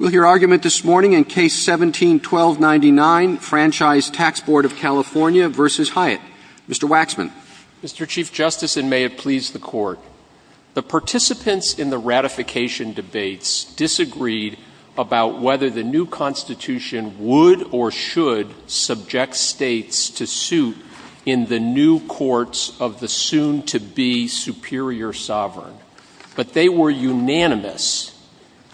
Mr. Waxman. Mr. Chief Justice, and may it please the Court, the participants in the ratification debates disagreed about whether the new Constitution would or should subject states to suit in the new courts of the soon-to-be-superior sovereign. But they were unanimous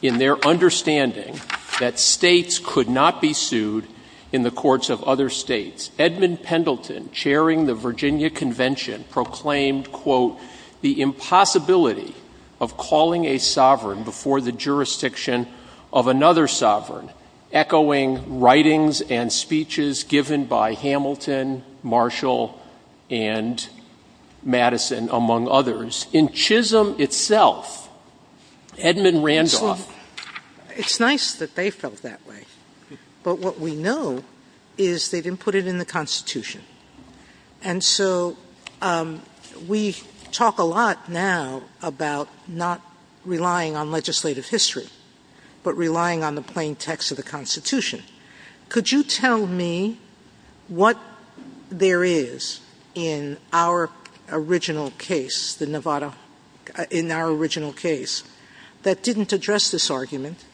in their understanding of the importance of ratification, and they agreed to ratify it. In their understanding that states could not be sued in the courts of other states, Edmund Pendleton, chairing the Virginia Convention, proclaimed, quote, the impossibility of calling a sovereign before the jurisdiction of another sovereign, echoing writings and speeches given by Hamilton, Marshall, and Madison, among others. In Chisholm itself, Edmund Randolph ---- Sotomayor, it's nice that they felt that way, but what we know is they didn't put it in the Constitution. And so we talk a lot now about not relying on legislative history, but relying on the plain text of the Constitution. Could you tell me what there is in our original case, the Nevada ---- in our original case that didn't address this argument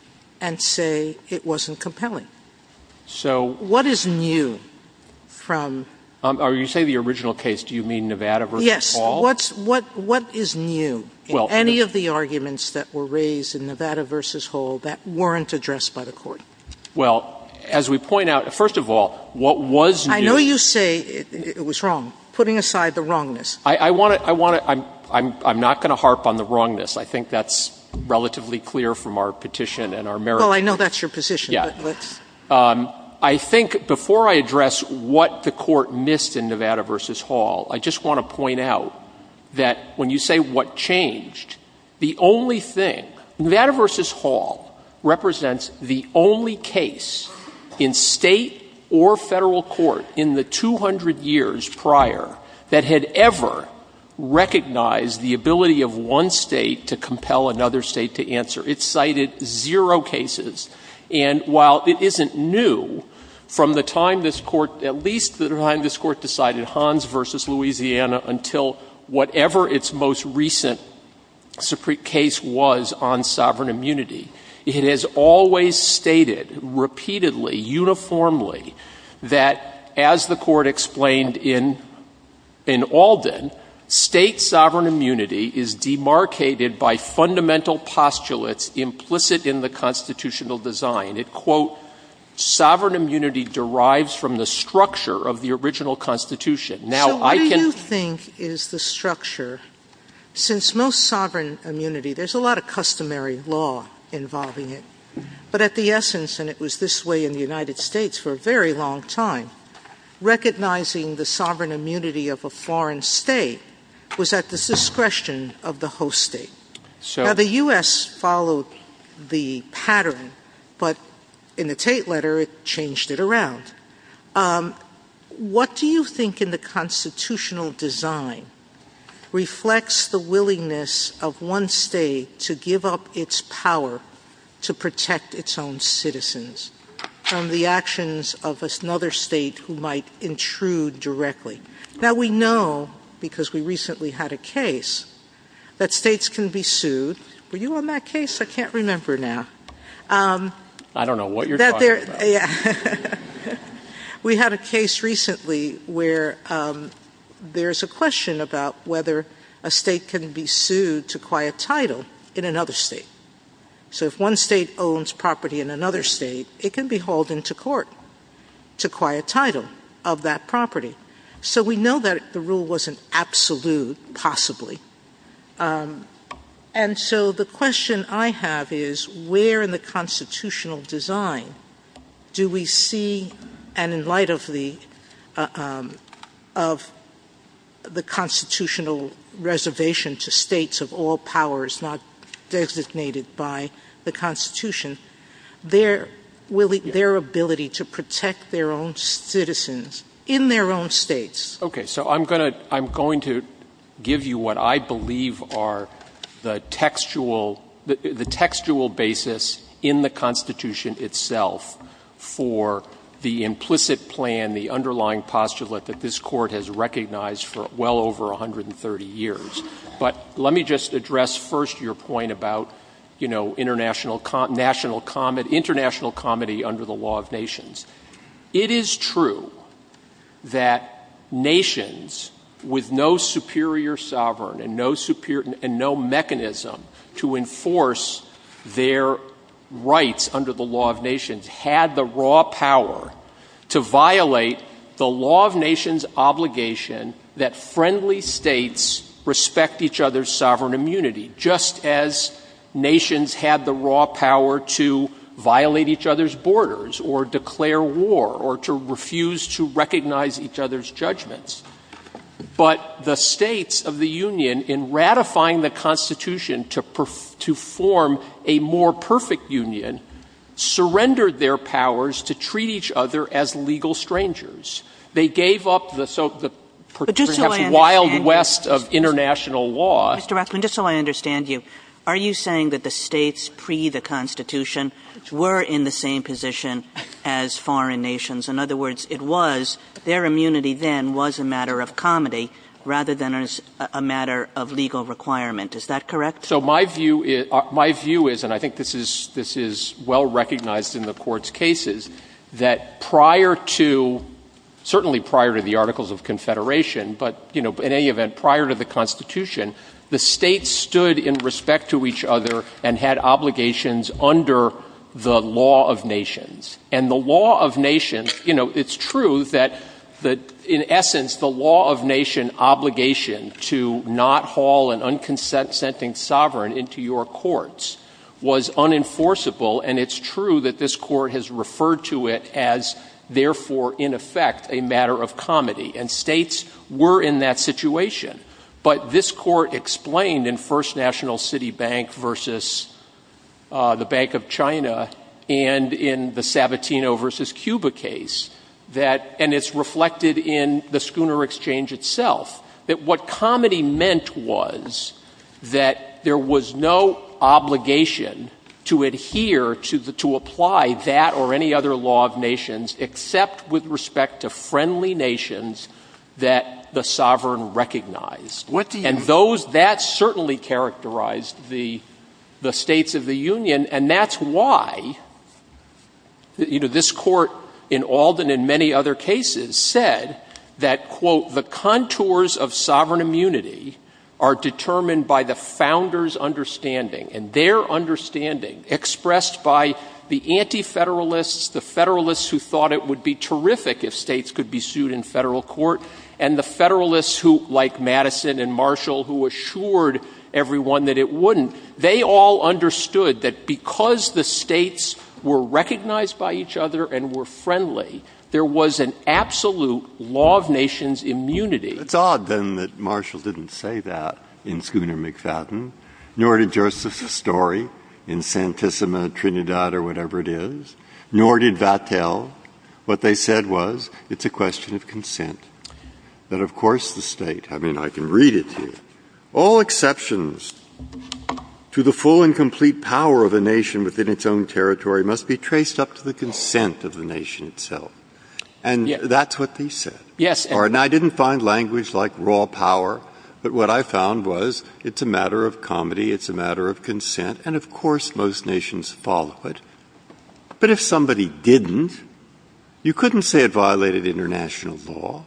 and say it wasn't compelling? What is new from ---- Roberts' Are you saying the original case, do you mean Nevada v. Hall? Sotomayor What is new in any of the arguments that were raised in Nevada v. Hall that weren't addressed by the Court? Well, as we point out, first of all, what was new ---- Sotomayor I know you say it was wrong. Putting aside the wrongness. Roberts I want to ---- I want to ---- I'm not going to harp on the wrongness. I think that's relatively clear from our petition and our merits ---- Sotomayor Well, I know that's your position, but let's ---- Roberts I think before I address what the Court missed in Nevada v. Hall, I just want to point out that when you say what changed, the only thing ---- Nevada v. Hall represents the only case in State or Federal court in the 200 years prior that had ever recognized the ability of one State to compel another State to answer. It cited zero cases. And while it isn't new, from the time this Court, at least the time this Court decided Hans v. Louisiana until whatever its most recent case was on sovereign immunity, it has always stated repeatedly, uniformly, that as the Court explained in Alden, State sovereign immunity is demarcated by fundamental postulates implicit in the constitutional design. It, quote, sovereign immunity derives from the structure of the original Constitution. Now, I can ---- Sotomayor So what do you think is the structure? Since most sovereign immunity, there's a lot of customary law involving it, but at the essence, and it was this way in the United States for a very long time, recognizing the sovereign immunity of a foreign State was at the discretion of the host State. Now, the U.S. followed the pattern, but in the Tate letter, it changed it around. What do you think in the constitutional design reflects the willingness of one State to give up its power to protect its own citizens from the actions of another State who might intrude directly? Now, we know, because we recently had a case, that States can be sued. Were you on that case? I can't remember now. I don't know what you're talking about. We had a case recently where there's a question about whether a State can be sued to quiet title in another State. So if one State owns property in another State, it can be hauled into court to quiet title of that property. So we know that the rule wasn't absolute, possibly, and so the question I have is where in the constitutional design do we see, and in light of the constitutional reservation to States of all powers not designated by the Constitution, their ability to protect their own citizens in their own States? Okay. So I'm going to give you what I believe are the textual basis in the Constitution itself for the implicit plan, the underlying postulate that this Court has recognized for well over 130 years. But let me just address first your point about international comedy under the law of nations. It is true that nations with no superior sovereign and no mechanism to enforce their rights under the law of nations had the raw power to violate the law of nations obligation that friendly States respect each other's sovereign immunity, just as they respect each other's sovereign immunity to declare war or to refuse to recognize each other's judgments. But the States of the Union, in ratifying the Constitution to form a more perfect union, surrendered their powers to treat each other as legal strangers. They gave up the wild west of international law. Mr. Waxman, just so I understand you, are you saying that the States pre the Constitution were in the same position as foreign nations? In other words, it was, their immunity then was a matter of comedy rather than a matter of legal requirement. Is that correct? So my view is, and I think this is well recognized in the Court's cases, that prior to, certainly prior to the Articles of Confederation, but in any event, prior to the Constitution, the States stood in respect to each other and had obligations under the law of nations. And the law of nations, it's true that in essence the law of nation obligation to not haul an unconsenting sovereign into your courts was unenforceable, and it's true that this Court has referred to it as therefore in effect a matter of comedy. And States were in that situation. But this Court explained in First National City Bank versus the Bank of China and in the Sabatino versus Cuba case that, and it's reflected in the Schooner Exchange itself, that what comedy meant was that there was no obligation to adhere to apply that or any other law of nations except with respect to friendly nations that the sovereign recognized. And those, that certainly characterized the States of the Union. And that's why, you know, this Court in Alden and many other cases said that, quote, the contours of sovereign immunity are determined by the founders' understanding, and their understanding expressed by the anti-federalists, the federalists who thought it would be terrific if States could be sued in federal court, and the federalists who, like Madison and Marshall, who assured everyone that it wouldn't, they all understood that because the States were recognized by each other and were friendly, there was an absolute law of nations immunity. It's odd, then, that Marshall didn't say that in Schooner-McFadden, nor did Joseph Sestori in Santissima, Trinidad, or whatever it is, nor did Vattel. What they said was, it's a question of consent, that of course the State, I mean, I can read it to you, all exceptions to the full and complete power of a nation within its own territory must be traced up to the consent of the nation itself. And that's what they said. And I didn't find language like raw power, but what I found was, it's a matter of comedy, it's a matter of consent, and of course most nations follow it. But if somebody didn't, you couldn't say it violated international law.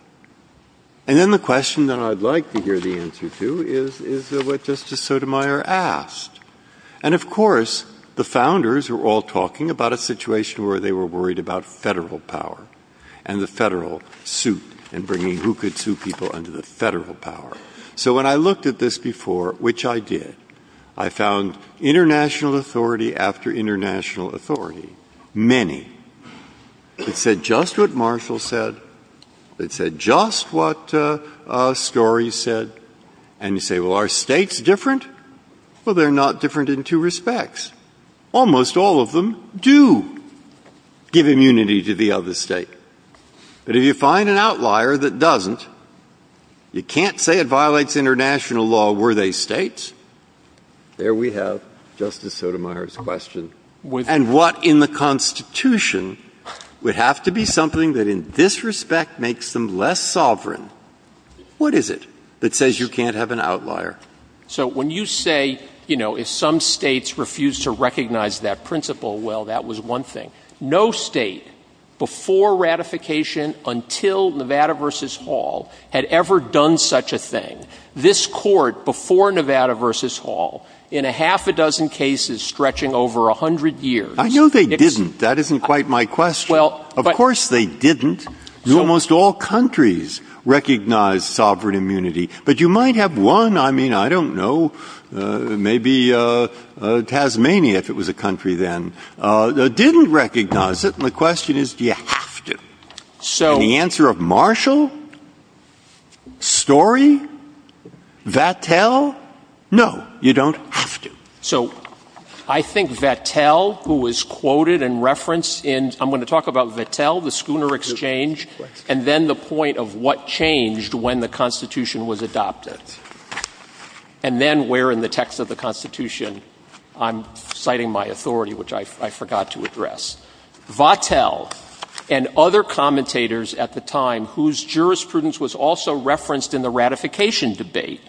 And then the question that I'd like to hear the answer to is what Justice Sotomayor asked. And of course, the founders were all talking about a situation where they were worried about federal power and the federal suit and bringing who could sue people under the federal power. So when I looked at this before, which I did, I found international authority after international authority, many, that said just what Marshall said, that said just what Sestori said, and you say, well, are states different? Well, they're not different in two respects. Almost all of them do. Give immunity to the other state. But if you find an outlier that doesn't, you can't say it violates international law, were they states? There we have Justice Sotomayor's question. And what in the Constitution would have to be something that in this respect makes them less sovereign? What is it that says you can't have an outlier? So when you say, you know, if some states refuse to recognize that principle, well, that was one thing. No state before ratification until Nevada v. Hall had ever done such a thing. This Court before Nevada v. Hall in a half a dozen cases stretching over 100 years. I know they didn't. That isn't quite my question. Of course they didn't. Almost all countries recognized sovereign immunity. But you might have one, I mean, I don't know, maybe Tasmania if it was a state that didn't recognize it. And the question is, do you have to? And the answer of Marshall? Story? Vattel? No. You don't have to. So I think Vattel, who was quoted and referenced in, I'm going to talk about Vattel, the schooner exchange, and then the point of what changed when the Constitution was adopted. And then where in the text of the Constitution I'm citing my authority, which I forgot to address. Vattel and other commentators at the time, whose jurisprudence was also referenced in the ratification debate,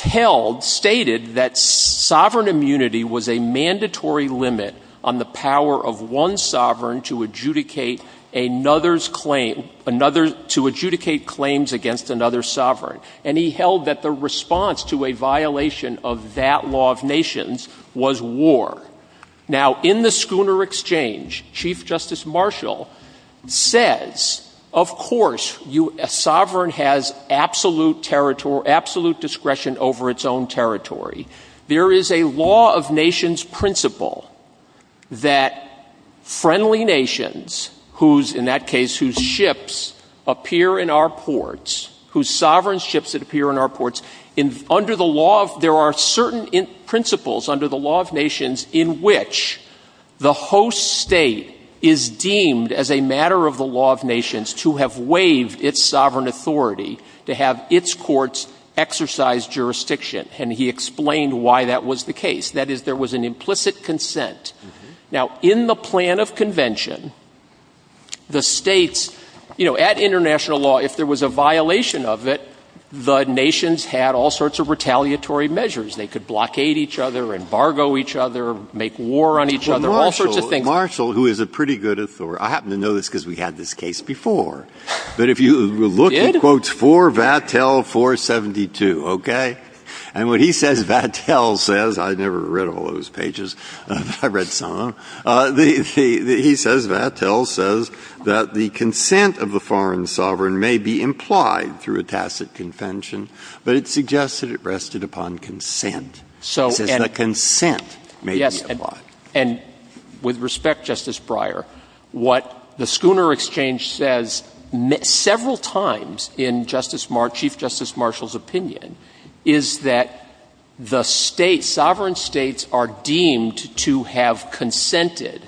held, stated that sovereign immunity was a mandatory limit on the power of one sovereign to adjudicate another's claim, to adjudicate claims against another sovereign. And he held that the response to a violation of that law of nations was war. Now, in the schooner exchange, Chief Justice Marshall says, of course, a sovereign has absolute discretion over its own territory. There is a law of nations principle that friendly nations, in that case whose ships appear in our ports, whose sovereign ships that appear in our ports, under the law of, there are certain principles under the law of nations in which the host state is deemed as a matter of the law of nations to have waived its sovereign authority, to have its courts exercise jurisdiction. And he explained why that was the case. That is, there was an implicit consent. Now, in the plan of convention, the states, you know, at international law, if there was a violation of it, the nations had all sorts of retaliatory measures. They could blockade each other, embargo each other, make war on each other, all sorts of things. Marshall, who is a pretty good authority, I happen to know this because we had this case before, but if you look at quotes for Vattel 472, okay? And what he says Vattel says, I never read all those pages, but I read some of them. He says Vattel says that the consent of the foreign sovereign may be implied through a tacit convention, but it suggests that it rested upon consent. It says that consent may be implied. Yes, and with respect, Justice Breyer, what the Schooner Exchange says several times in Chief Justice Marshall's opinion is that the states, sovereign states are deemed to have consented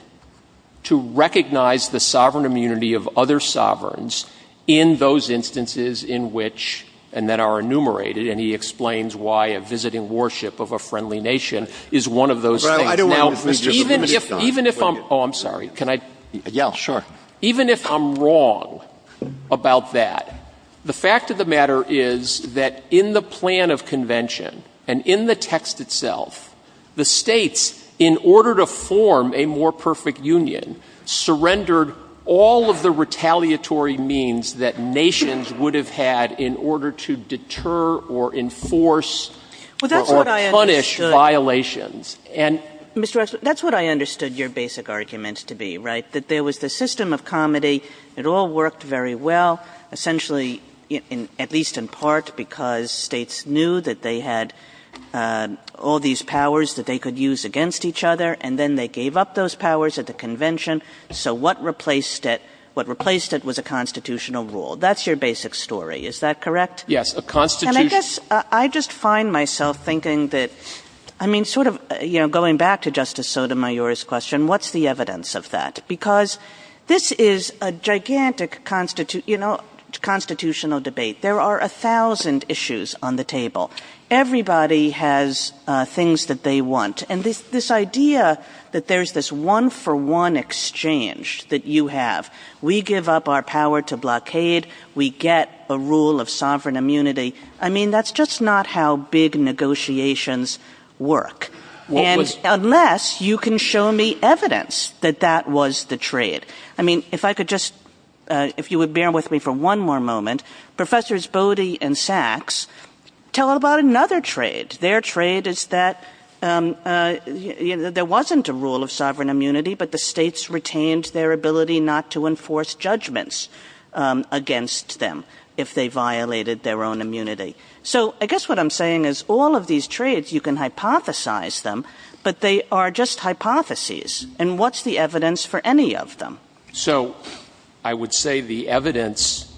to recognize the sovereign immunity of other sovereigns in those instances in which, and that are enumerated, and he explains why a visiting warship of a friendly nation is one of those things. Now, even if I'm wrong about that, the fact of the matter is that in the plan of convention and in the text itself, the states, in order to form a more perfect union, surrendered all of the retaliatory means that nations would have had in order to deter or enforce or punish violations. And Mr. Waxman, that's what I understood your basic argument to be, right? That there was the system of comedy, it all worked very well, essentially, at least in part because states knew that they had all these powers that they could use against each other, and then they gave up those powers at the convention. So what replaced it? What replaced it was a constitutional rule. That's your basic story. Is that correct? Yes, a constitution. And I guess I just find myself thinking that, I mean, sort of, you know, going back to Justice Sotomayor's question, what's the evidence of that? Because this is a gigantic constitutional debate. There are a thousand issues on the table. Everybody has things that they want. And this idea that there's this one-for-one exchange that you have, we give up our power to blockade, we get a rule of sovereign immunity, I mean, that's just not how big negotiations work. And unless you can show me evidence that that was the trade. I mean, if I could just, if you would bear with me for one more moment, Professors Bode and Sachs tell about another trade. Their trade is that there wasn't a rule of sovereign immunity, but the states retained their ability not to enforce judgments against them if they violated their own immunity. So, I guess what I'm saying is, all of these trades, you can hypothesize them, but they are just hypotheses. And what's the evidence for any of them? So, I would say the evidence,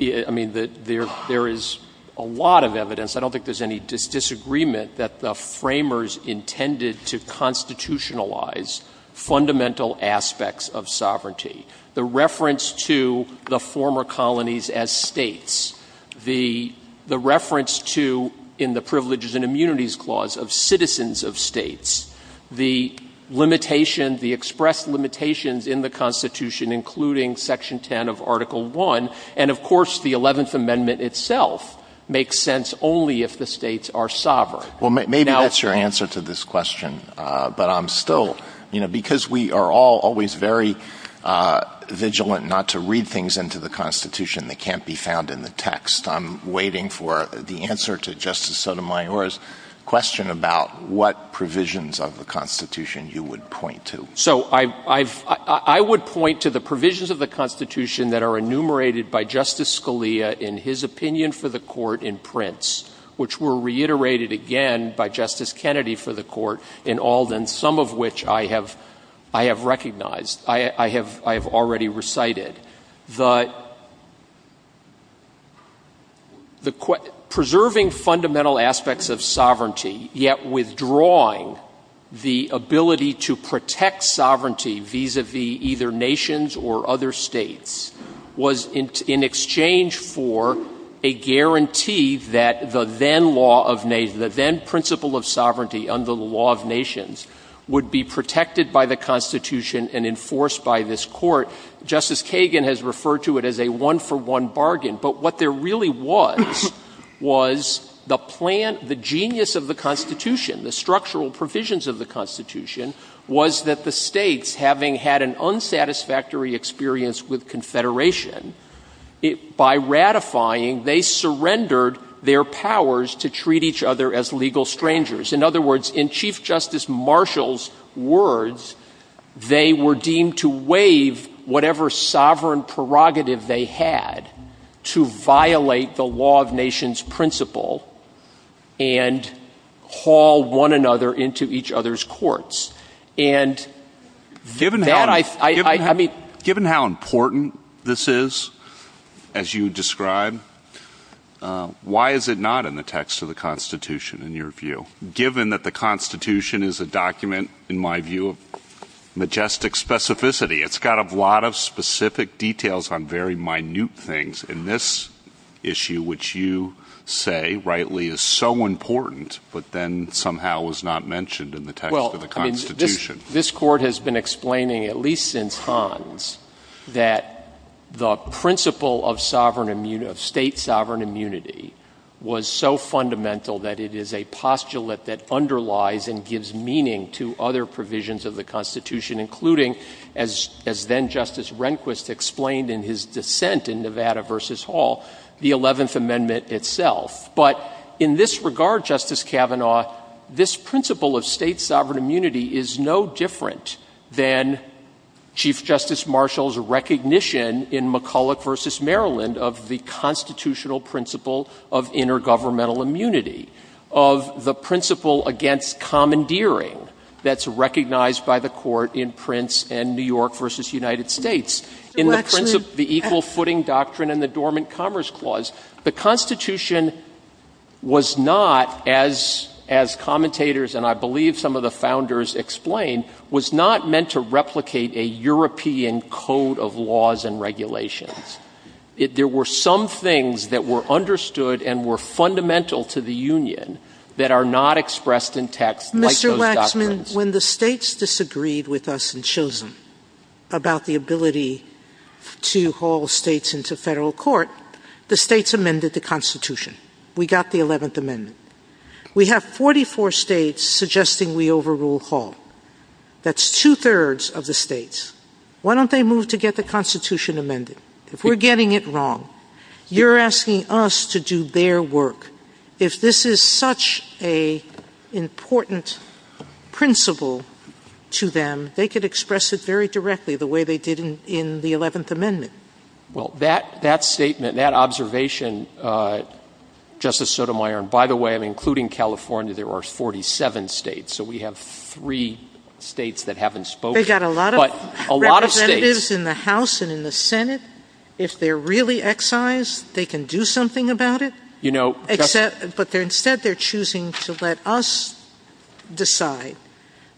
I mean, there is a lot of evidence. I don't think there's any disagreement that the framers intended to constitutionalize fundamental aspects of sovereignty. The reference to the former colonies as states. The reference to, in the Privileges and Immunities Clause, of citizens of states. The limitation, the expressed limitations in the Constitution, including Section 10 of Article I. And, of course, the Eleventh Amendment itself makes sense only if the states are sovereign. Well, maybe that's your answer to this question. But I'm still, you know, because we are all always very vigilant not to read things into the Constitution that can't be found in the text, I'm waiting for the answer to Justice Sotomayor's question about what provisions of the Constitution you would point to. So, I would point to the provisions of the Constitution that are enumerated by Justice Scalia in his opinion for the Court in Prince, which were reiterated again by Justice Kennedy for the Court in Alden, some of which I have recognized, I have already recited. The preserving fundamental aspects of sovereignty, yet withdrawing the ability to protect sovereignty vis-à-vis either nations or other states, was intended in exchange for a guarantee that the then law of nations, the then principle of sovereignty under the law of nations would be protected by the Constitution and enforced by this Court. Justice Kagan has referred to it as a one-for-one bargain. But what there really was, was the plan, the genius of the Constitution, the structural provisions of the Constitution, was that the states, having had an agreement, by ratifying, they surrendered their powers to treat each other as legal strangers. In other words, in Chief Justice Marshall's words, they were deemed to waive whatever sovereign prerogative they had to violate the law of nations principle and haul one another into each other's courts. Given how important this is, as you describe, why is it not in the text of the Constitution, in your view? Given that the Constitution is a document, in my view, of majestic specificity, it's got a lot of specific details on very minute things. And this issue, which you say, rightly, is so important, but then somehow was not mentioned in the text of the Constitution. I mean, this Court has been explaining, at least since Hans, that the principle of state sovereign immunity was so fundamental that it is a postulate that underlies and gives meaning to other provisions of the Constitution, including, as then-Justice Rehnquist explained in his dissent in Nevada v. Hall, the Eleventh Amendment itself. But in this regard, Justice Kavanaugh, this principle of state sovereign immunity is no different than Chief Justice Marshall's recognition in McCulloch v. Maryland of the constitutional principle of intergovernmental immunity, of the principle against commandeering that's recognized by the Court in Prince and New York v. United States. In the principle, the equal footing doctrine and the dormant commerce clause, the Constitution was not, as commentators and I believe some of the founders explained, was not meant to replicate a European code of laws and regulations. There were some things that were understood and were fundamental to the Union that are not expressed in text like those doctrines. When the states disagreed with us in Chisholm about the ability to haul states into federal court, the states amended the Constitution. We got the Eleventh Amendment. We have 44 states suggesting we overrule Hall. That's two-thirds of the states. Why don't they move to get the Constitution amended? If we're getting it wrong, you're asking us to do their work. If this is such an important principle to them, they could express it very directly the way they did in the Eleventh Amendment. Well, that statement, that observation, Justice Sotomayor, and by the way, including California, there are 47 states, so we have three states that haven't spoken. They've got a lot of representatives in the House and in the Senate. If they're really excised, they can do something about it? But instead, they're choosing to let us decide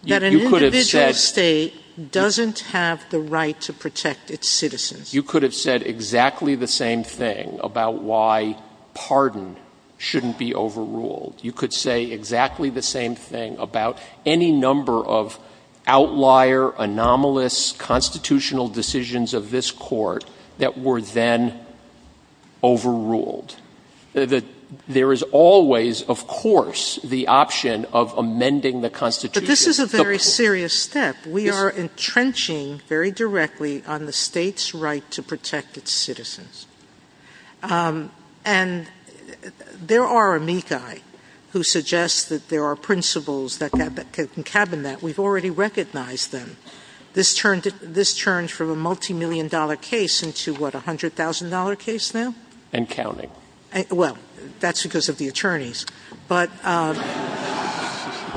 that an individual state doesn't have the right to protect its citizens. You could have said exactly the same thing about why pardon shouldn't be overruled. You could say exactly the same thing about any number of outlier, anomalous constitutional decisions of this Court that were then overruled. There is always, of course, the option of amending the Constitution. But this is a very serious step. We are entrenching very directly on the state's right to protect its citizens. And there are amici who suggest that there are principles that concabine that. We've already recognized them. This turned from a multimillion-dollar case into, what, a $100,000 case now? And counting. Well, that's because of the attorneys. But...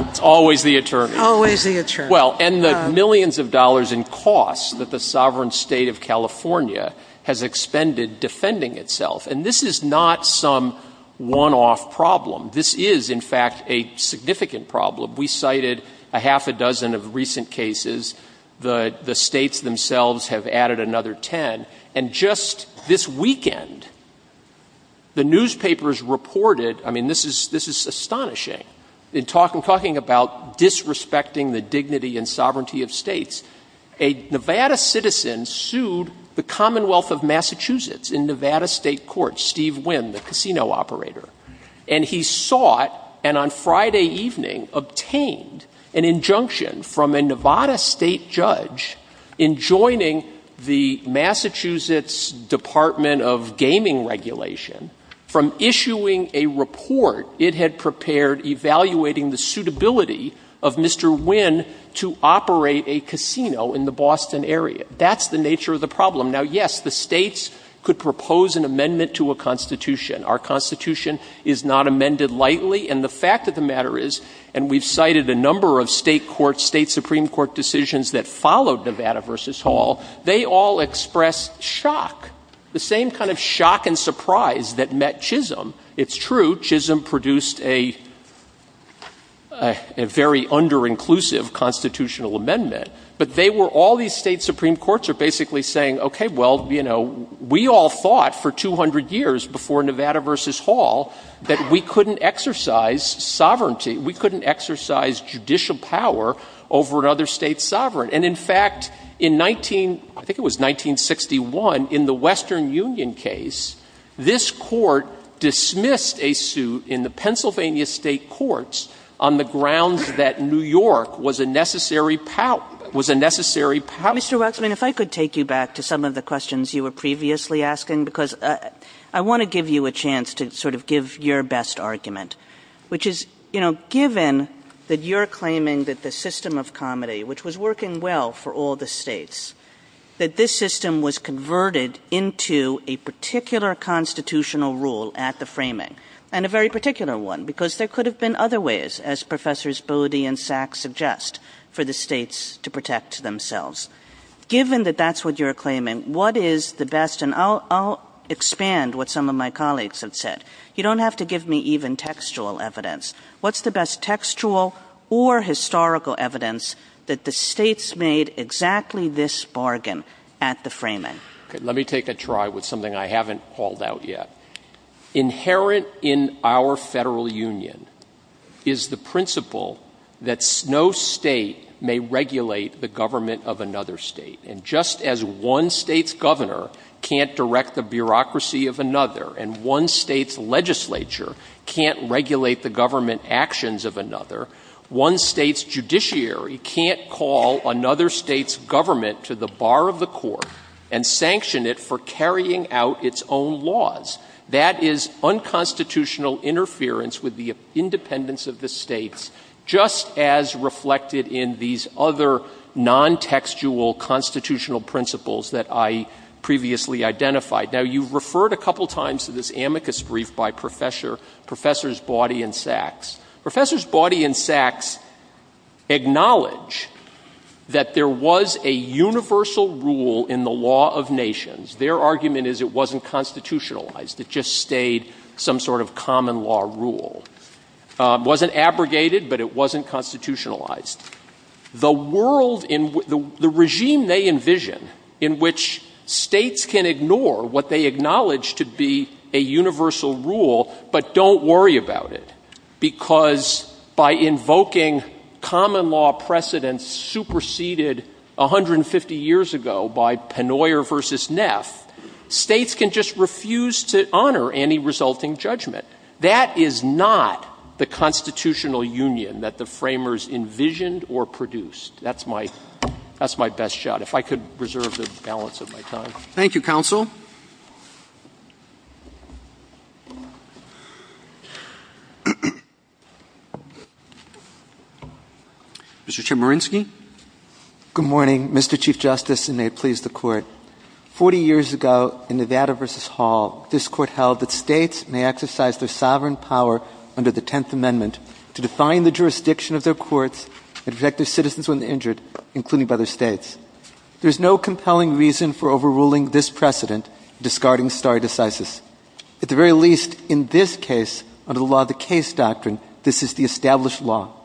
It's always the attorneys. Always the attorneys. Well, and the millions of dollars in costs that the sovereign state of California has expended defending itself. And this is not some one-off problem. This is, in fact, a significant problem. We cited a half a dozen of recent cases. The states themselves have added another ten. And just this weekend, the newspapers reported, I mean, this is astonishing, in talking about disrespecting the dignity and sovereignty of states. A Nevada citizen sued the Commonwealth of Massachusetts in Nevada state court, Steve Wynn, the casino operator. And he sought, and on Friday evening, obtained an injunction from a Nevada state judge in joining the Massachusetts Department of Gaming Regulation, from issuing a report it had prepared evaluating the suitability of Mr. Wynn to operate a casino in the Boston area. That's the nature of the problem. Now, yes, the states could propose an amendment to a Constitution. Our Constitution is not amended lightly. And the fact of the matter is, and we've cited a number of state court, decisions that followed Nevada v. Hall, they all express shock. The same kind of shock and surprise that met Chisholm. It's true, Chisholm produced a very under-inclusive Constitutional amendment. But they were, all these state Supreme Courts are basically saying, okay, well, you know, we all thought for 200 years before Nevada v. Hall, that we couldn't exercise sovereignty, we couldn't exercise judicial power over another state's sovereign. And in fact, in 19, I think it was 1961, in the Western Union case, this Court dismissed a suit in the Pennsylvania state courts on the grounds that New York was a necessary power, was a necessary power. Mr. Waxman, if I could take you back to some of the questions you were previously asking, because I want to give you a chance to sort of give your best argument, which is, you know, given that you're claiming that the system of comedy, which was working well for all the states, that this system was converted into a particular Constitutional rule at the framing, and a very particular one, because there could have been other ways, as Professors Bodie and Sack suggest, for the states to protect themselves. Given that that's what you're claiming, what is the best, and I'll expand what some of my colleagues have said, you don't have to give me even textual evidence, what's the best textual or historical evidence that the states made exactly this bargain at the framing? Let me take a try with something I haven't called out yet. Inherent in our Federal Union is the principle that no state may regulate the government of another state. And just as one state's governor can't direct the bureaucracy of another, and one state's legislature can't regulate the government actions of another, one state's judiciary can't call another state's government to the bar of the court, and sanction it for carrying out its own laws. That is unconstitutional interference with the independence of the states, just as reflected in these other non-textual Constitutional principles that I previously identified. Now, you've referred a couple times to this amicus brief by Professors Bawdy and Sacks. Professors Bawdy and Sacks acknowledge that there was a universal rule in the law of nations. Their argument is it wasn't constitutionalized. It just stayed some sort of common law rule. It wasn't abrogated, but it wasn't constitutionalized. The world, the regime they envision, in which states can ignore what they acknowledge to be a universal rule, but don't worry about it, because by invoking common law precedents superseded 150 years ago by Pennoyer versus Neff, states can just refuse to honor any resulting judgment. That is not the Constitutional Union that the framers envisioned or produced. That's my best shot. If I could reserve the balance of my time. Thank you, Counsel. Mr. Chemerinsky. Good morning, Mr. Chief Justice, and may it please the Court. Forty years ago, in Nevada versus Hall, this Court held that states may exercise their sovereign power under the Tenth Amendment to define the jurisdiction of their courts and protect their citizens when injured, including by their states. There is no compelling reason for overruling this precedent, discarding stare decisis. At the very least, in this case, under the law of the case doctrine, this is the established law.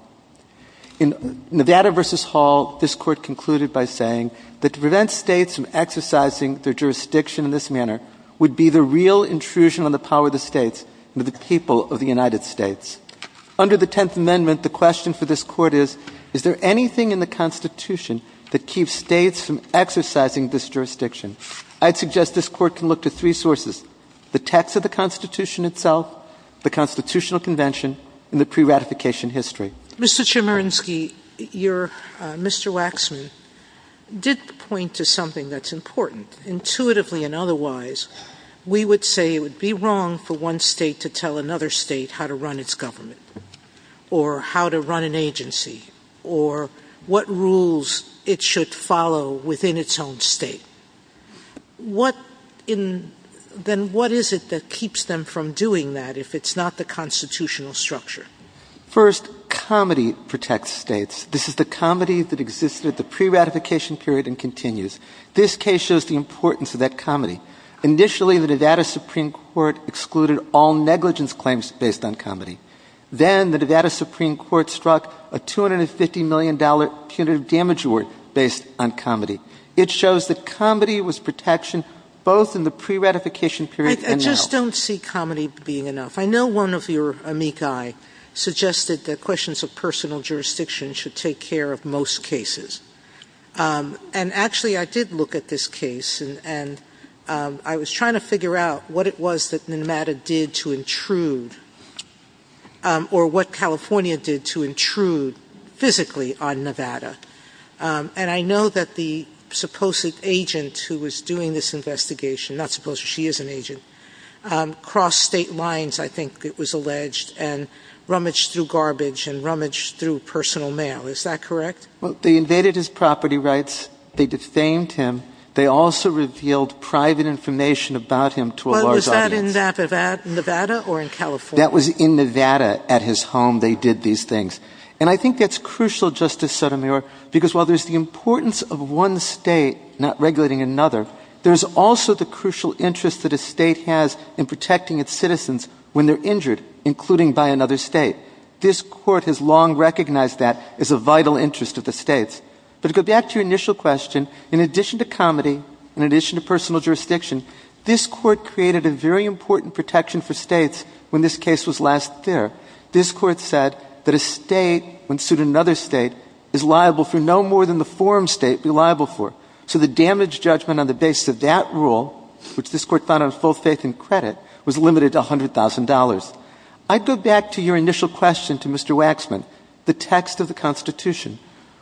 In Nevada versus Hall, this Court concluded by saying that to prevent states from exercising their jurisdiction in this manner would be the real intrusion on the power of the states under the people of the United States. Under the Tenth Amendment, the question for this Court is, is there anything in the Constitution that keeps states from exercising this jurisdiction? I'd suggest this Court can look to three sources. The text of the Constitution itself, the Constitutional Convention, and the pre-ratification history. Mr. Chemerinsky, Mr. Waxman did point to something that's important. Intuitively and otherwise, we would say it would be wrong for one state to tell another state how to run its government, or how to run an agency, or what rules it should follow within its own state. Then what is it that keeps them from doing that if it's not the Constitutional structure? First, comedy protects states. This is the comedy that existed at the pre-ratification period and continues. This case shows the importance of that comedy. Initially, the Nevada Supreme Court excluded all negligence claims based on comedy. Then the Nevada Supreme Court struck a $250 million punitive damage award based on comedy. It shows that comedy was protection both in the pre-ratification period and now. I just don't see comedy being enough. I know one of your amici suggested that questions of personal jurisdiction should take care of most cases. And actually, I did look at this case and I was trying to figure out what it was that Nevada did to intrude or what California did to intrude physically on Nevada. And I know that the supposed agent who was doing this investigation, not supposed, she is an agent, crossed state lines, I think it was alleged, and rummaged through garbage and rummaged through personal mail. Is that correct? They invaded his property rights. They defamed him. They also revealed private information about him to a large audience. Was that in Nevada or in California? That was in Nevada at his home. They did these things. And I think that's crucial, Justice Sotomayor, because while there's the importance of one state not regulating another, there's also the crucial interest that a state has in protecting its citizens when they're injured, including by another state. This Court has long recognized that as a vital interest of the states. But to go back to your initial question, in addition to comedy, in addition to personal jurisdiction, this Court created a very important protection for states when this case was last there. This Court said that a state, when sued in another state, is liable for no more than the form state would be liable for. So the damage judgment on the basis of that rule, which this Court found on full faith and credit, was limited to $100,000. I go back to your initial question to Mr. Waxman, the text of the Constitution.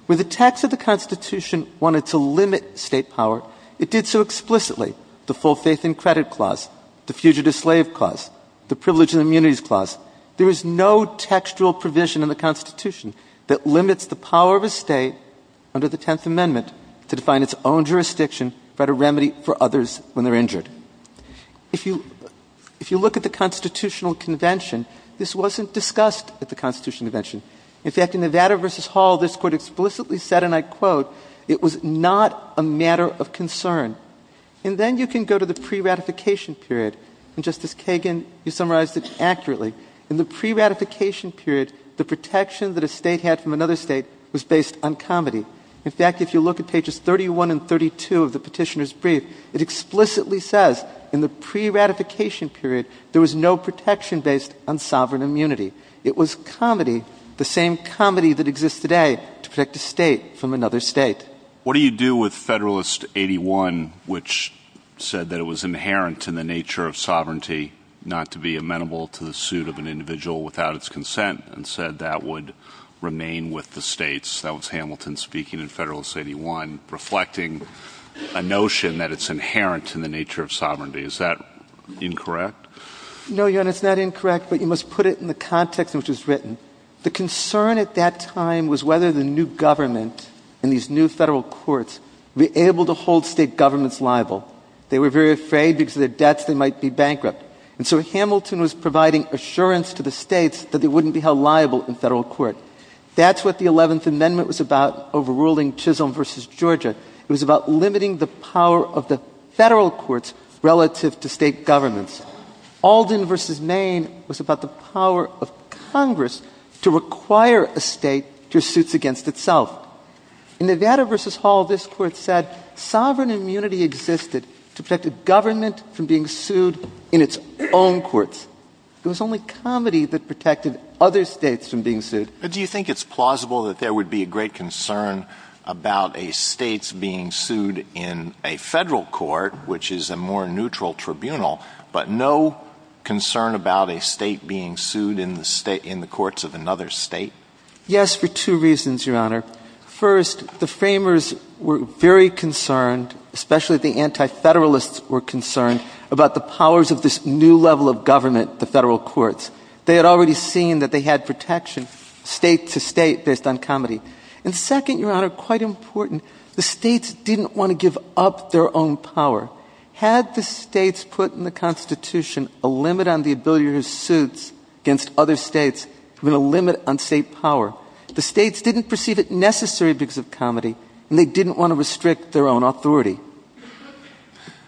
When the text of the Constitution wanted to limit state power, it did so explicitly. The full faith and credit clause, the fugitive slave clause, the privilege and immunities clause. There is no textual provision in the Constitution that limits the power of a state under the Tenth Amendment to define its own jurisdiction, write a remedy for others when they're injured. If you look at the Constitutional Convention, this wasn't discussed at the Constitutional Convention. In fact, in Nevada v. Hall, this Court explicitly said, and I quote, it was not a matter of concern. And then you can go to the pre-ratification period, and Justice Kagan, you summarized it accurately. In the pre-ratification period, the protection that a state had from another state was based on comity. In fact, if you look at pages 31 and 32 of the Petitioner's Brief, it explicitly says in the pre-ratification period there was no protection based on sovereign immunity. It was comity, the same comity that exists today to protect a state from another state. What do you do with Federalist 81, which said that it was inherent in the nature of sovereignty not to be amenable to the suit of an individual without its consent, and said that would remain with the states? That was Hamilton speaking in Federalist 81, reflecting a notion that it's inherent in the nature of sovereignty. Is that incorrect? No, Your Honor, it's not incorrect, but you must put it in the context in which it was written. The concern at that time was whether the new government and these new Federal courts would be able to hold state governments liable. They were very afraid because of their debts they might be bankrupt. And so Hamilton was providing assurance to the states that they wouldn't be held liable in Federal court. That's what the 11th Amendment was about overruling Chisholm v. Georgia. It was about limiting the power of the Federal courts relative to state governments. Alden v. Maine was about the power of Congress to require a state to suit against itself. In Nevada v. Hall, this Court said sovereign immunity existed to protect a government from being sued in its own courts. It was only comedy that protected other states from being sued. But do you think it's plausible that there would be a great concern about a state's being sued in a Federal court, which is a more neutral tribunal, but no concern about a state being sued in the courts of another state? Yes, for two reasons, Your Honor. First, the framers were very concerned, especially the anti-Federalists were concerned, about the powers of this new level of government, the Federal courts. They had already seen that they had protection state to state based on comedy. And second, Your Honor, quite important, the states didn't want to give up their own power. Had the states put in the Constitution a limit on the ability to sue against other states with a limit on state power, the states didn't perceive it necessary because of comedy, and they didn't want to restrict their own authority.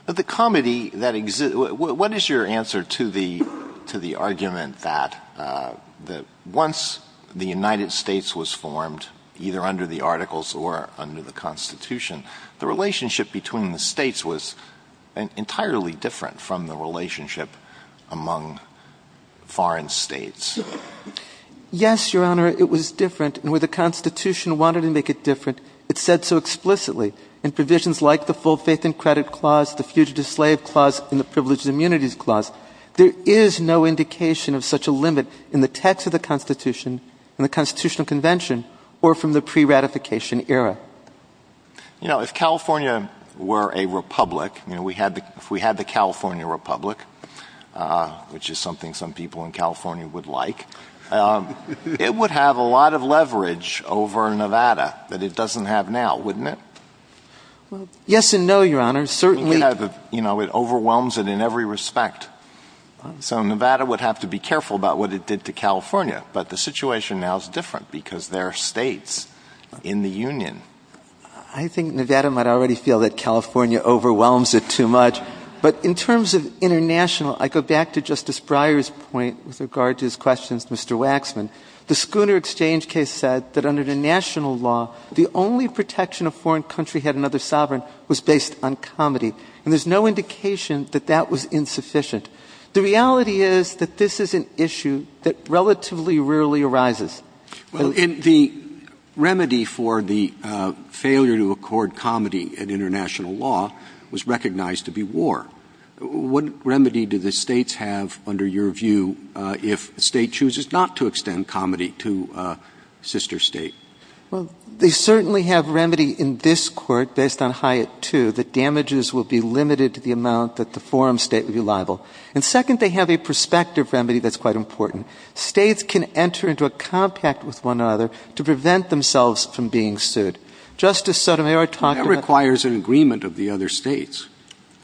But the comedy that exists... What is your answer to the argument that once the United States was formed, either under the Articles or under the Constitution, the relationship between the states was entirely different from the relationship among foreign states? Yes, Your Honor, it was different. And where the Constitution wanted to make it different, it said so explicitly. In provisions like the Full Faith and Credit Clause, the Fugitive Slave Clause, and the Privileged Immunities Clause, there is no indication of such a limit in the text of the Constitution, in the Constitutional Convention, or from the pre-ratification era. You know, if California were a republic, if we had the California Republic, which is something some people in California would like, it would have a lot of leverage over Nevada that it doesn't have now, wouldn't it? Yes and no, Your Honor. It overwhelms it in every respect. So Nevada would have to be careful about what it did to California. But the situation now is different because there are states in the Union. I think Nevada might already feel that California overwhelms it too much. But in terms of international, I go back to Justice Breyer's point with regard to his questions to Mr. Waxman. The Schooner Exchange case said that under the national law, the only protection a foreign country had another sovereign was based on comity. And there's no indication that that was insufficient. The reality is that this is an issue that relatively rarely arises. Well, and the remedy for the failure to accord comity in international law was recognized to be war. What remedy do the states have, under your view, if a state chooses not to extend comity to a sister state? Well, they certainly have remedy in this Court, based on Hyatt II, that damages will be limited to the amount that the forum state would be liable. And second, they have a prospective remedy that's quite important. States can enter into a compact with one another to prevent themselves from being sued. Justice Sotomayor talked about... But that requires an agreement of the other states.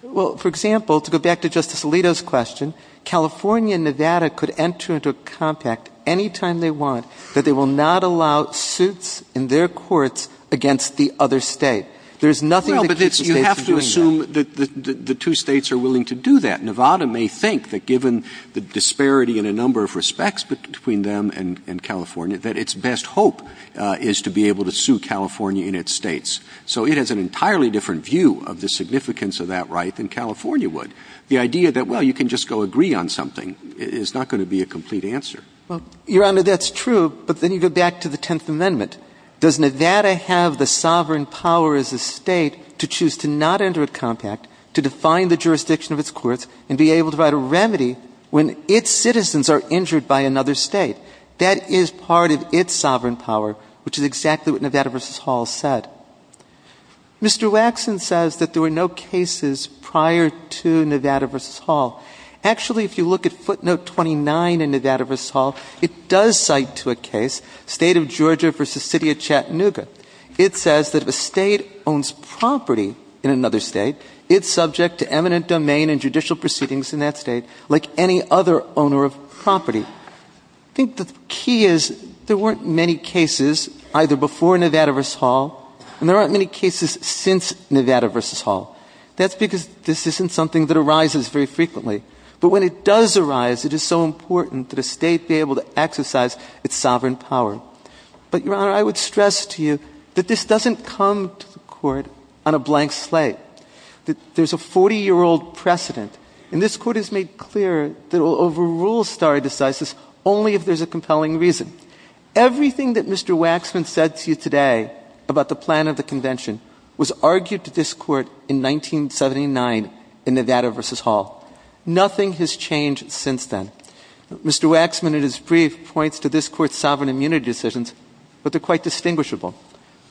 Well, for example, to go back to Justice Alito's question, California and Nevada could enter into a compact any time they want, that they will not allow suits in their courts against the other state. There's nothing that keeps the states from doing that. Well, but you have to assume that the two states are willing to do that. Nevada may think that given the disparity in a number of respects between them and California, that its best hope is to be able to sue California in its states. So it has an entirely different view of the significance of that right than California would. The idea that, well, you can just go agree on something is not going to be a complete answer. Well, Your Honor, that's true, but then you go back to the Tenth Amendment. Does Nevada have the sovereign power as a state to choose to not enter a compact, to define the jurisdiction of its courts, and be able to write a remedy when its citizens are injured by another state? That is part of its sovereign power, which is exactly what Nevada v. Hall said. Mr. Waxman says that there were no cases prior to Nevada v. Hall. Actually, if you look at footnote 29 in Nevada v. Hall, it does cite to a case, State of Georgia v. City of Chattanooga. It says that if a state owns property in another state, it's subject to eminent domain and judicial proceedings in that state, like any other owner of property. I think the key is there weren't many cases either before Nevada v. Hall, and there aren't many cases since Nevada v. Hall. That's because this isn't something that arises very frequently. But when it does arise, it is so important that a state be able to exercise its sovereign power. But, Your Honor, I would stress to you that this doesn't come to the Court on a blank slate. There's a 40-year-old precedent, and this Court has made clear that it will overrule stare decisis only if there's a compelling reason. Everything that Mr. Waxman said to you today about the plan of the Convention was argued to this Court in 1979 in Nevada v. Hall. Nothing has changed since then. Mr. Waxman, in his brief, points to this Court's sovereign immunity decisions, but they're quite distinguishable.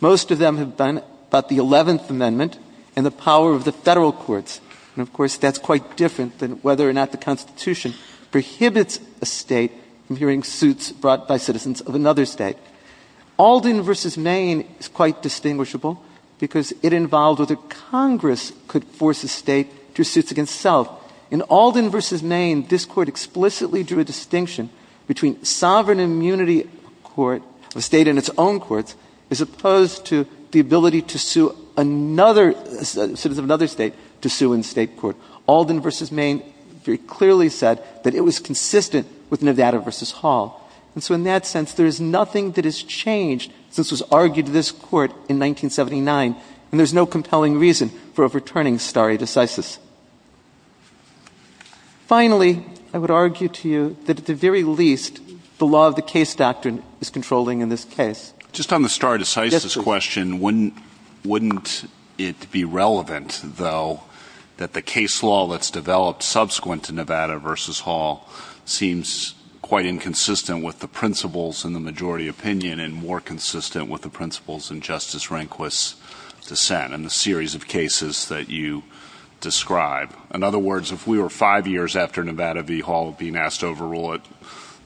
Most of them have been about the 11th Amendment and the power of the federal courts. And, of course, that's quite different than whether or not the Constitution prohibits a state from hearing suits brought by citizens of another state. Alden v. Maine is quite distinguishable because it involved whether Congress could force a state to do suits against itself. In Alden v. Maine, this Court explicitly drew a distinction between sovereign immunity of a state in its own courts as opposed to the ability to sue another... citizens of another state to sue in state court. Alden v. Maine very clearly said that it was consistent with Nevada v. Hall. And so in that sense, there is nothing that has changed since it was argued to this Court in 1979, and there's no compelling reason for overturning stare decisis. Finally, I would argue to you that at the very least, the law of the case doctrine is controlling in this case. Just on the stare decisis question, wouldn't it be relevant, though, that the case law that's developed subsequent to Nevada v. Hall seems quite inconsistent with the principles in the majority opinion and more consistent with the principles in Justice Rehnquist's dissent and the series of cases that you describe? In other words, if we were five years after Nevada v. Hall being asked to overrule it,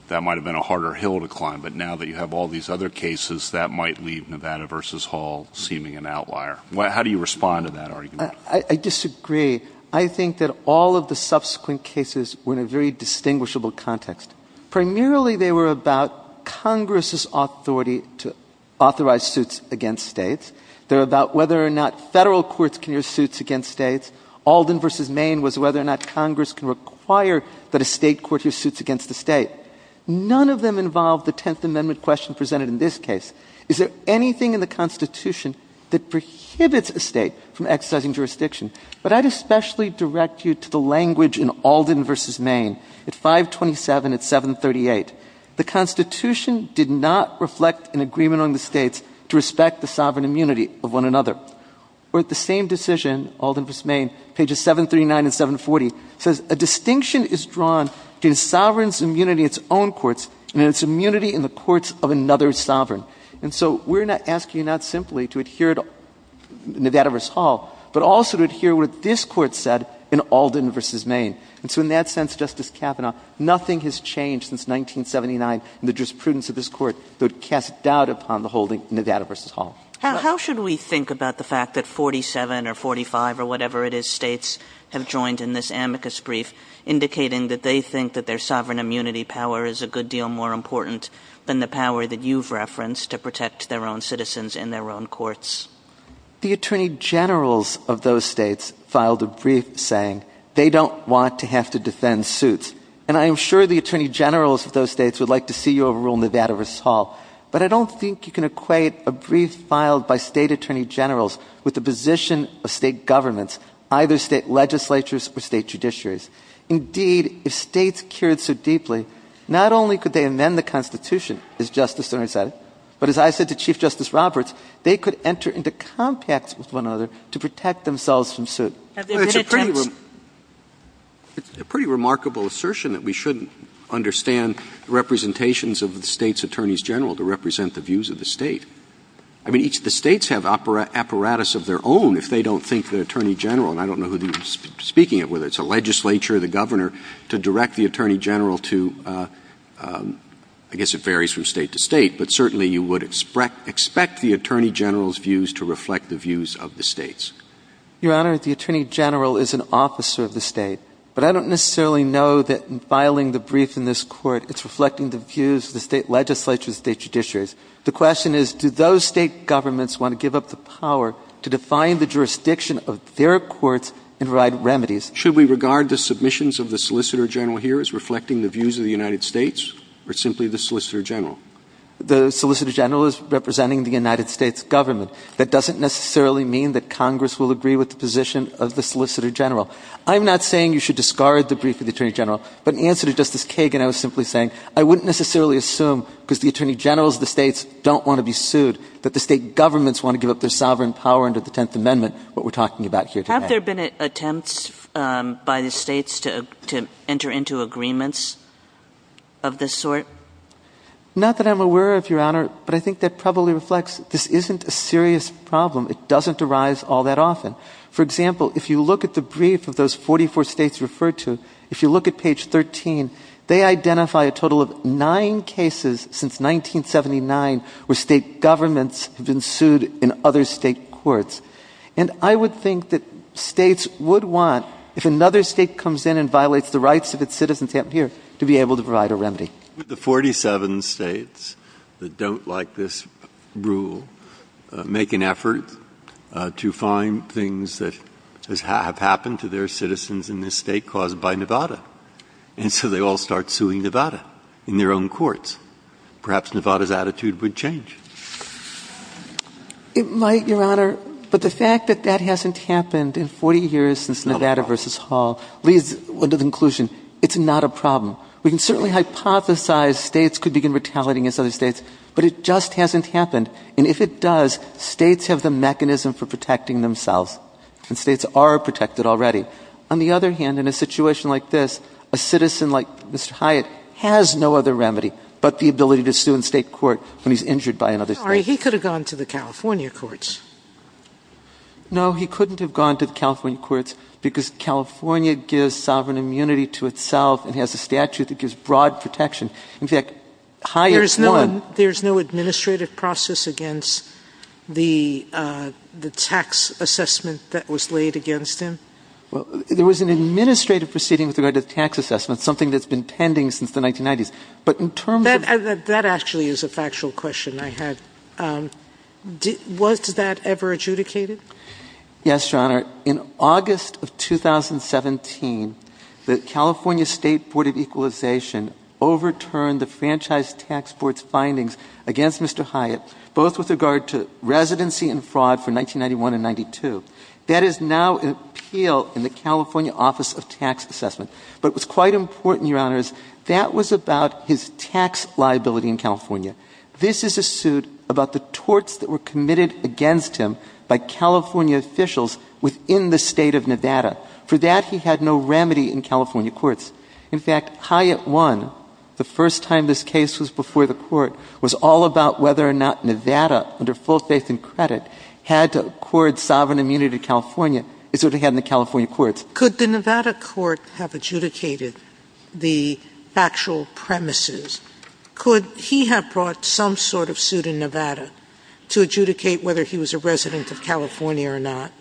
that might have been a harder hill to climb. But now that you have all these other cases, that might leave Nevada v. Hall seeming an outlier. How do you respond to that argument? I disagree. I think that all of the subsequent cases were in a very distinguishable context. Primarily, they were about Congress's authority to authorize suits against states. They're about whether or not federal courts can use suits against states. Alden v. Maine was whether or not Congress can require that a state court hear suits against a state. None of them involved the Tenth Amendment question presented in this case. Is there anything in the Constitution that prohibits a state from exercising jurisdiction? But I'd especially direct you to the language in Alden v. Maine at 527 and 738. The Constitution did not reflect an agreement on the states to respect the sovereign immunity of one another. Or at the same decision, Alden v. Maine, pages 739 and 740, says a distinction is drawn between a sovereign's immunity in its own courts and its immunity in the courts of another sovereign. And so we're asking you not simply to adhere to Nevada v. Hall, but also to adhere to what this Court said in Alden v. Maine. And so in that sense, Justice Kavanaugh, nothing has changed since 1979 in the jurisprudence of this Court that would cast doubt upon the holding of Nevada v. Hall. How should we think about the fact that 47 or 45 or whatever it is states have joined in this amicus brief, indicating that they think that their sovereign immunity power is a good deal more important than the power that you've referenced to protect their own citizens in their own courts? The attorney generals of those states filed a brief saying they don't want to have to defend suits. And I am sure the attorney generals of those states would like to see you overrule Nevada v. Hall. But I don't think you can equate a brief filed by state attorney generals with the position of state governments, either state legislatures or state judiciaries. Indeed, if states cared so deeply, not only could they amend the Constitution, as Justice Sotomayor said, but as I said to Chief Justice Roberts, they could enter into compacts with one another to protect themselves from suit. Have there been attempts? It's a pretty remarkable assertion that we shouldn't understand representations of the states' attorneys generals to represent the views of the state. I mean, each of the states have apparatus of their own if they don't think the attorney general, and I don't know who you're speaking of, whether it's the legislature or the governor, to direct the attorney general to, I guess it varies from state to state, but certainly you would expect the attorney general's views to reflect the views of the states. Your Honor, the attorney general is an officer of the state. But I don't necessarily know that filing the brief in this Court, it's reflecting the views of the state legislature, the state judiciaries. The question is, do those state governments want to give up the power to define the jurisdiction of their courts and provide remedies? Should we regard the submissions of the solicitor general here as reflecting the views of the United States or simply the solicitor general? The solicitor general is representing the United States government. That doesn't necessarily mean that Congress will agree with the position of the solicitor general. I'm not saying you should discard the brief of the attorney general, but in answer to Justice Kagan I was simply saying I wouldn't necessarily assume, because the attorney generals of the states don't want to be sued, that the state governments want to give up their sovereign power under the Tenth Amendment, what we're talking about here today. Have there been attempts by the states to enter into agreements of this sort? Not that I'm aware of, Your Honor, but I think that probably reflects this isn't a serious problem. It doesn't arise all that often. For example, if you look at the brief of those 44 states referred to, if you look at page 13, they identify a total of nine cases since 1979 where state governments have been sued in other state courts. And I would think that states would want, if another state comes in and violates the rights of its citizens here, to be able to provide a remedy. The 47 states that don't like this rule make an effort to find things that have happened to their citizens in this state caused by Nevada. And so they all start suing Nevada in their own courts. Perhaps Nevada's attitude would change. It might, Your Honor, but the fact that that hasn't happened in 40 years since Nevada v. Hall leads to the conclusion it's not a problem. We can certainly hypothesize states could begin retaliating against other states, but it just hasn't happened. And if it does, states have the mechanism for protecting themselves, and states are protected already. On the other hand, in a situation like this, a citizen like Mr. Hyatt has no other remedy but the ability to sue in state court when he's injured by another state. He could have gone to the California courts. No, he couldn't have gone to the California courts because California gives sovereign immunity to itself and has a statute that gives broad protection. In fact, Hyatt won. There's no administrative process against the tax assessment that was laid against him? Well, there was an administrative proceeding with regard to the tax assessment, something that's been pending since the 1990s. But in terms of... That actually is a factual question I had. Was that ever adjudicated? Yes, Your Honor. In August of 2017, the California State Board of Equalization overturned the Franchise Tax Board's findings against Mr. Hyatt, both with regard to residency and fraud for 1991 and 92. That is now an appeal in the California Office of Tax Assessment. But it was quite important, Your Honors, that was about his tax liability in California. This is a suit about the torts that were committed against him by California officials within the state of Nevada. For that, he had no remedy in California courts. In fact, Hyatt won. The first time this case was before the court was all about whether or not Nevada, under full faith and credit, had to accord sovereign immunity to California. It's what they had in the California courts. Could the Nevada court have adjudicated the factual premises? Could he have brought some sort of suit in Nevada to adjudicate whether he was a resident of California or not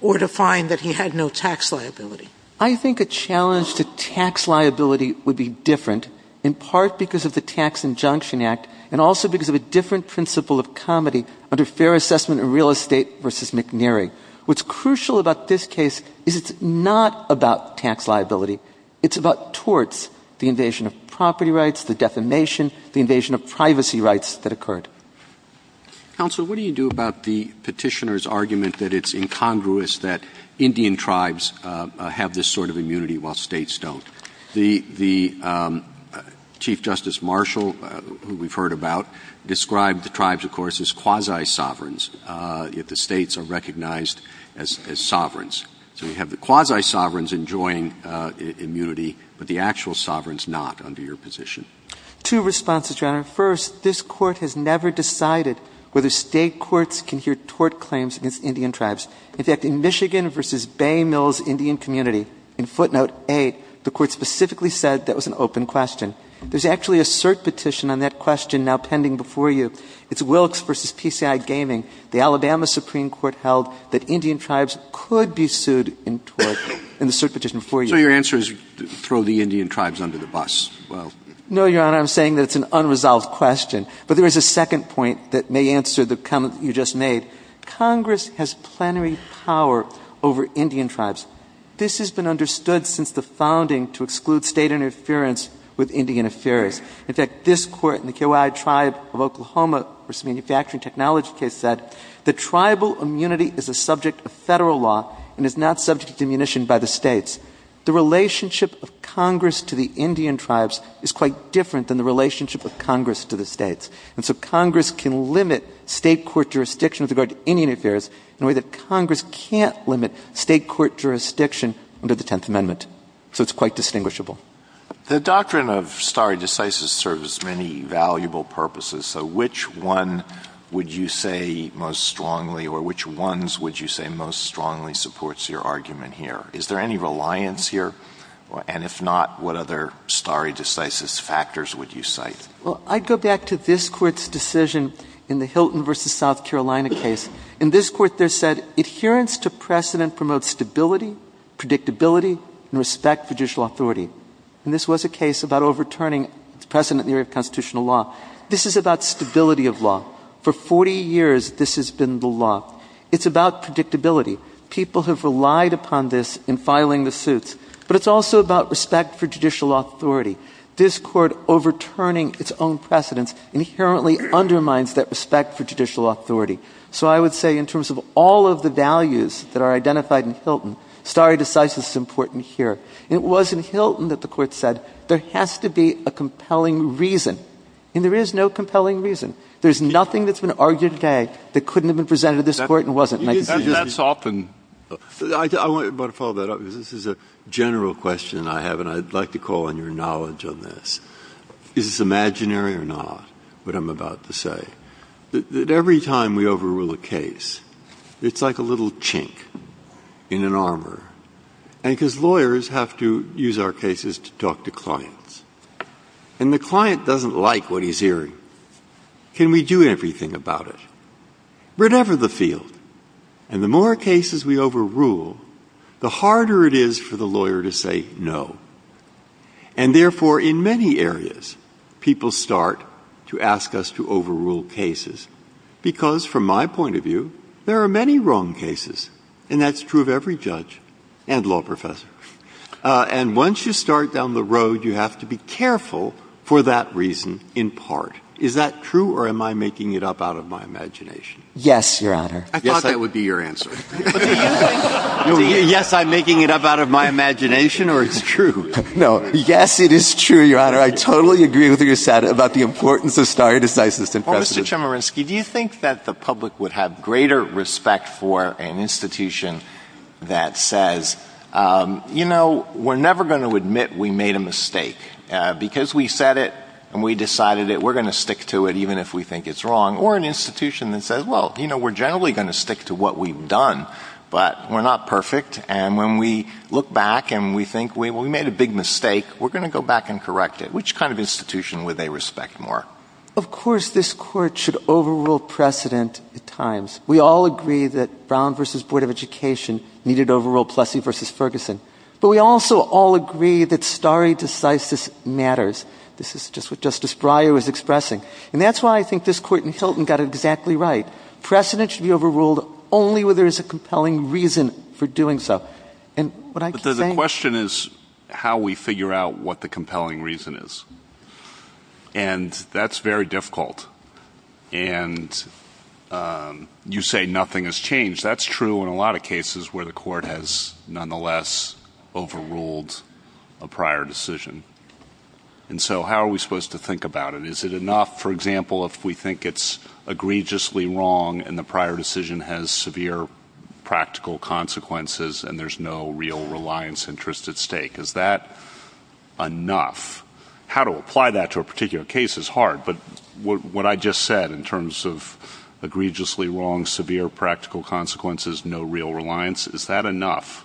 or to find that he had no tax liability? I think a challenge to tax liability would be different, in part because of the Tax Injunction Act and also because of a different principle of comedy under Fair Assessment and Real Estate v. McNary. What's crucial about this case is it's not about tax liability. It's about torts, the invasion of property rights, the defamation, the invasion of privacy rights that occurred. Counsel, what do you do about the petitioner's argument that it's incongruous that Indian tribes have this sort of immunity while states don't? The Chief Justice Marshall, who we've heard about, described the tribes, of course, as quasi-sovereigns, yet the states are recognized as sovereigns. So we have the quasi-sovereigns enjoying immunity, but the actual sovereigns not under your position. Two responses, Your Honor. First, this Court has never decided whether State courts can hear tort claims against Indian tribes. In fact, in Michigan v. Bay Mills Indian Community, in footnote 8, the Court specifically said that was an open question. There's actually a cert petition on that question now pending before you. It's Wilkes v. PCI Gaming. The Alabama Supreme Court held that Indian tribes could be sued in tort in the cert petition before you. So your answer is throw the Indian tribes under the bus. No, Your Honor, I'm saying that it's an unresolved question. But there is a second point that may answer the comment that you just made. Congress has plenary power over Indian tribes. This has been understood since the founding to exclude State interference with Indian affairs. In fact, this Court in the KYI Tribe of Oklahoma versus Manufacturing Technology case said that tribal immunity is a subject of federal law and is not subject to diminution by the States. The relationship of Congress to the Indian tribes is quite different than the relationship of Congress to the States. And so Congress can limit State court jurisdiction with regard to Indian affairs in a way that Congress can't limit State court jurisdiction under the Tenth Amendment. So it's quite distinguishable. The doctrine of stare decisis serves many valuable purposes. So which one would you say most strongly, or which ones would you say most strongly, supports your argument here? Is there any reliance here? And if not, what other stare decisis factors would you cite? Well, I'd go back to this Court's decision in the Hilton versus South Carolina case. In this Court, they said, adherence to precedent promotes stability, predictability, and respect for judicial authority. And this was a case about overturning precedent in the area of constitutional law. This is about stability of law. For 40 years, this has been the law. It's about predictability. People have relied upon this in filing the suits. But it's also about respect for judicial authority. This Court overturning its own precedents inherently undermines that respect for judicial authority. So I would say in terms of all of the values that are identified in Hilton, stare decisis is important here. It was in Hilton that the Court said, there has to be a compelling reason. And there is no compelling reason. There's nothing that's been argued today that couldn't have been presented to this Court and wasn't. That's often. I want to follow that up, because this is a general question I have, and I'd like to call on your knowledge on this. That every time we overrule a case, it's like a little chink in an armor. And because lawyers have to use our cases to talk to clients. And the client doesn't like what he's hearing. Can we do everything about it? Whatever the field. And the more cases we overrule, the harder it is for the lawyer to say no. And therefore, in many areas, people start to ask us to overrule cases. Because from my point of view, there are many wrong cases. And that's true of every judge and law professor. And once you start down the road, you have to be careful for that reason, in part. Is that true, or am I making it up out of my imagination? Yes, Your Honor. I thought that would be your answer. Yes, I'm making it up out of my imagination, or it's true? No, yes, it is true, Your Honor. I totally agree with what you said about the importance of stare decisis. Well, Mr. Chemerinsky, do you think that the public would have greater respect for an institution that says, you know, we're never going to admit we made a mistake. Because we said it, and we decided it, we're going to stick to it, even if we think it's wrong. Or an institution that says, well, you know, we're generally going to stick to what we've done, but we're not perfect, and when we look back and we think we made a big mistake, we're going to go back and correct it. Which kind of institution would they respect more? Of course this Court should overrule precedent at times. We all agree that Brown v. Board of Education needed to overrule Plessy v. Ferguson. But we also all agree that stare decisis matters. This is just what Justice Breyer was expressing. And that's why I think this Court in Hilton got it exactly right. Precedent should be overruled only where there is a compelling reason for doing so. And what I keep saying... But the question is how we figure out what the compelling reason is. And that's very difficult. And you say nothing has changed. That's true in a lot of cases where the Court has nonetheless overruled a prior decision. And so how are we supposed to think about it? Is it enough, for example, if we think it's egregiously wrong and the prior decision has severe practical consequences and there's no real reliance interest at stake? Is that enough? How to apply that to a particular case is hard. But what I just said in terms of egregiously wrong, severe practical consequences, no real reliance, is that enough,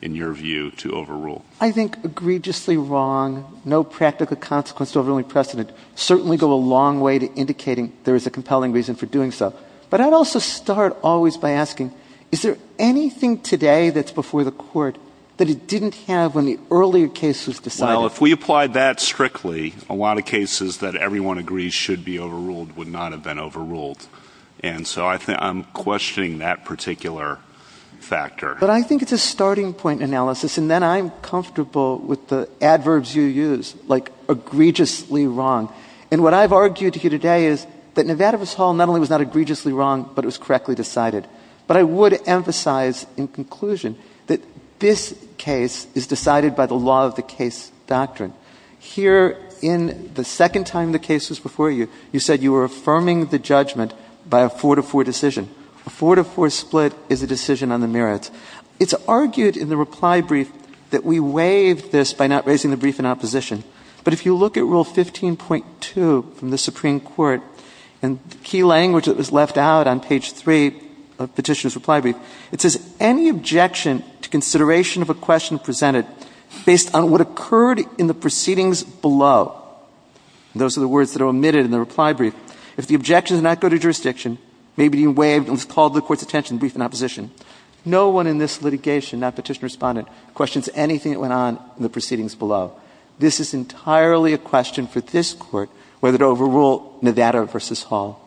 in your view, to overrule? I think egregiously wrong, no practical consequences overruling precedent certainly go a long way to indicating there is a compelling reason for doing so. But I'd also start always by asking, is there anything today that's before the Court that it didn't have when the earlier case was decided? Well, if we applied that strictly, a lot of cases that everyone agrees should be overruled would not have been overruled. And so I'm questioning that particular factor. But I think it's a starting point analysis, and then I'm comfortable with the adverbs you use, like egregiously wrong. And what I've argued to you today is that Nevadaverse Hall not only was not egregiously wrong, but it was correctly decided. But I would emphasize in conclusion that this case is decided by the law of the case doctrine. Here, in the second time the case was before you, you said you were affirming the judgment by a 4-to-4 decision. A 4-to-4 split is a decision on the merits. It's argued in the reply brief that we waived this by not raising the brief in opposition. But if you look at Rule 15.2 from the Supreme Court, and the key language that was left out on page 3 of Petitioner's reply brief, it says any objection to consideration of a question presented based on what occurred in the proceedings below. Those are the words that are omitted in the reply brief. If the objection did not go to jurisdiction, maybe it was called to the Court's attention in the brief in opposition. No one in this litigation, not Petitioner or Respondent, questions anything that went on in the proceedings below. This is entirely a question for this Court, whether to overrule Nevadaverse Hall.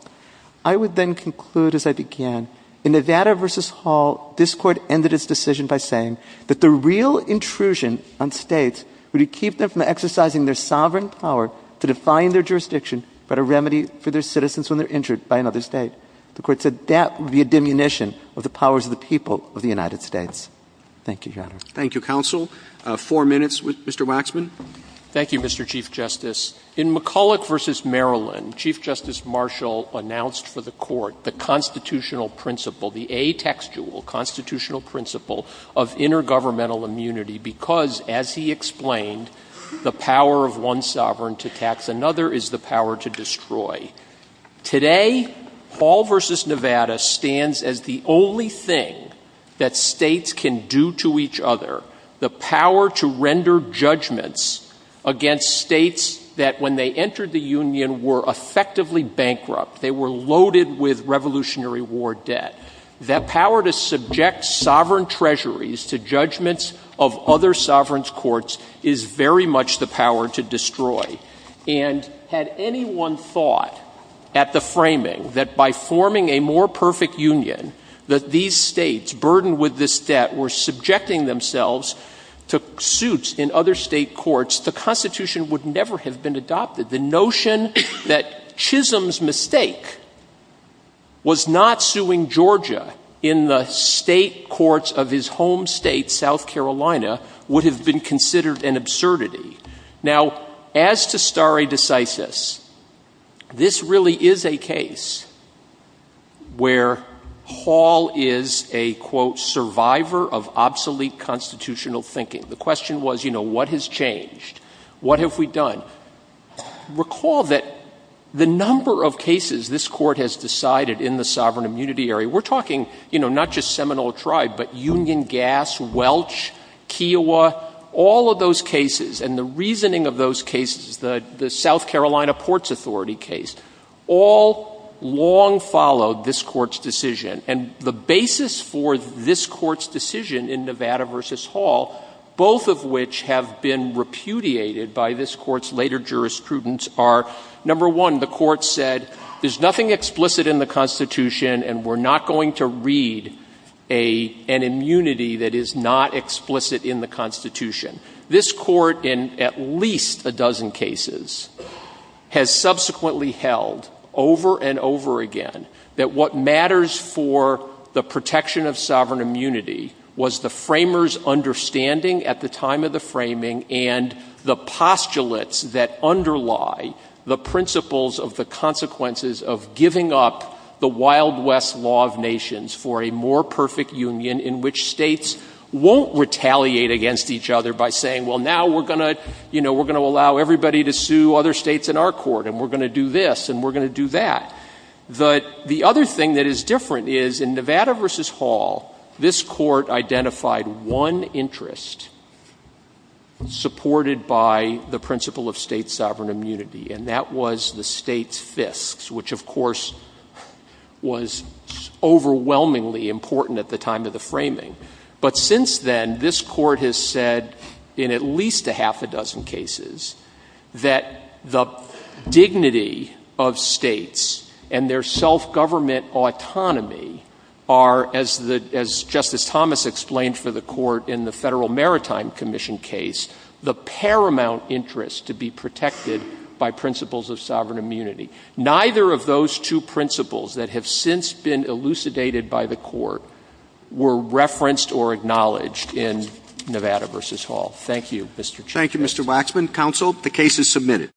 I would then conclude as I began, in Nevadaverse Hall, this Court ended its decision by saying that the real intrusion on States would keep them from exercising their sovereign power to define their jurisdiction, but a remedy for their citizens when they're injured by another State. The Court said that would be a diminution of the powers of the people of the United States. Thank you, Your Honor. Thank you, counsel. Four minutes with Mr. Waxman. Thank you, Mr. Chief Justice. In McCulloch v. Maryland, Chief Justice Marshall announced for the Court the constitutional principle, the atextual constitutional principle of intergovernmental immunity because, as he explained, the power of one sovereign to tax another is the power to destroy. Today, Hall v. Nevada stands as the only thing that States can do to each other, the power to render judgments against States that when they entered the Union were effectively bankrupt. They were loaded with Revolutionary War debt. That power to subject sovereign treasuries to judgments of other sovereigns' courts is very much the power to destroy. And had anyone thought at the framing that by forming a more perfect Union that these States, burdened with this debt, were subjecting themselves to suits in other State courts, the Constitution would never have been adopted. The notion that Chisholm's mistake was not suing Georgia in the State courts of his home State, South Carolina, would have been considered an absurdity. Now, as to stare decisis, this really is a case where Hall is a, quote, survivor of obsolete constitutional thinking. The question was, you know, what has changed? What have we done? Recall that the number of cases this Court has decided in the sovereign immunity area, we're talking, you know, not just Seminole Tribe, but Union Gas, Welch, Kiowa, all of those cases, and the reasoning of those cases, the South Carolina Ports Authority case, all long followed this Court's decision. And the basis for this Court's decision in Nevada v. Hall, both of which have been repudiated by this Court's later jurisprudence, are, number one, the Court said, there's nothing explicit in the Constitution, and we're not going to read an immunity that is not explicit in the Constitution. This Court, in at least a dozen cases, has subsequently held, over and over again, that what matters for the protection of sovereign immunity was the framers' understanding at the time of the framing and the postulates that underlie the principles of the consequences of giving up the Wild West Law of Nations for a more perfect union in which states won't retaliate against each other by saying, well, now we're going to, you know, we're going to allow everybody to sue other states in our Court, and we're going to do this, and we're going to do that. The other thing that is different is, in Nevada v. Hall, this Court identified one interest supported by the principle of state sovereign immunity, and that was the state's fisks, which, of course, was overwhelmingly important at the time of the framing. But since then, this Court has said, in at least a half a dozen cases, that the dignity of states and their self-government autonomy are, as Justice Thomas explained for the Court in the Federal Maritime Commission case, the paramount interest to be protected by principles of sovereign immunity. Neither of those two principles that have since been elucidated by the Court were referenced or acknowledged in Nevada v. Hall. Thank you, Mr. Chief. Thank you, Mr. Waxman. Counsel, the case is submitted.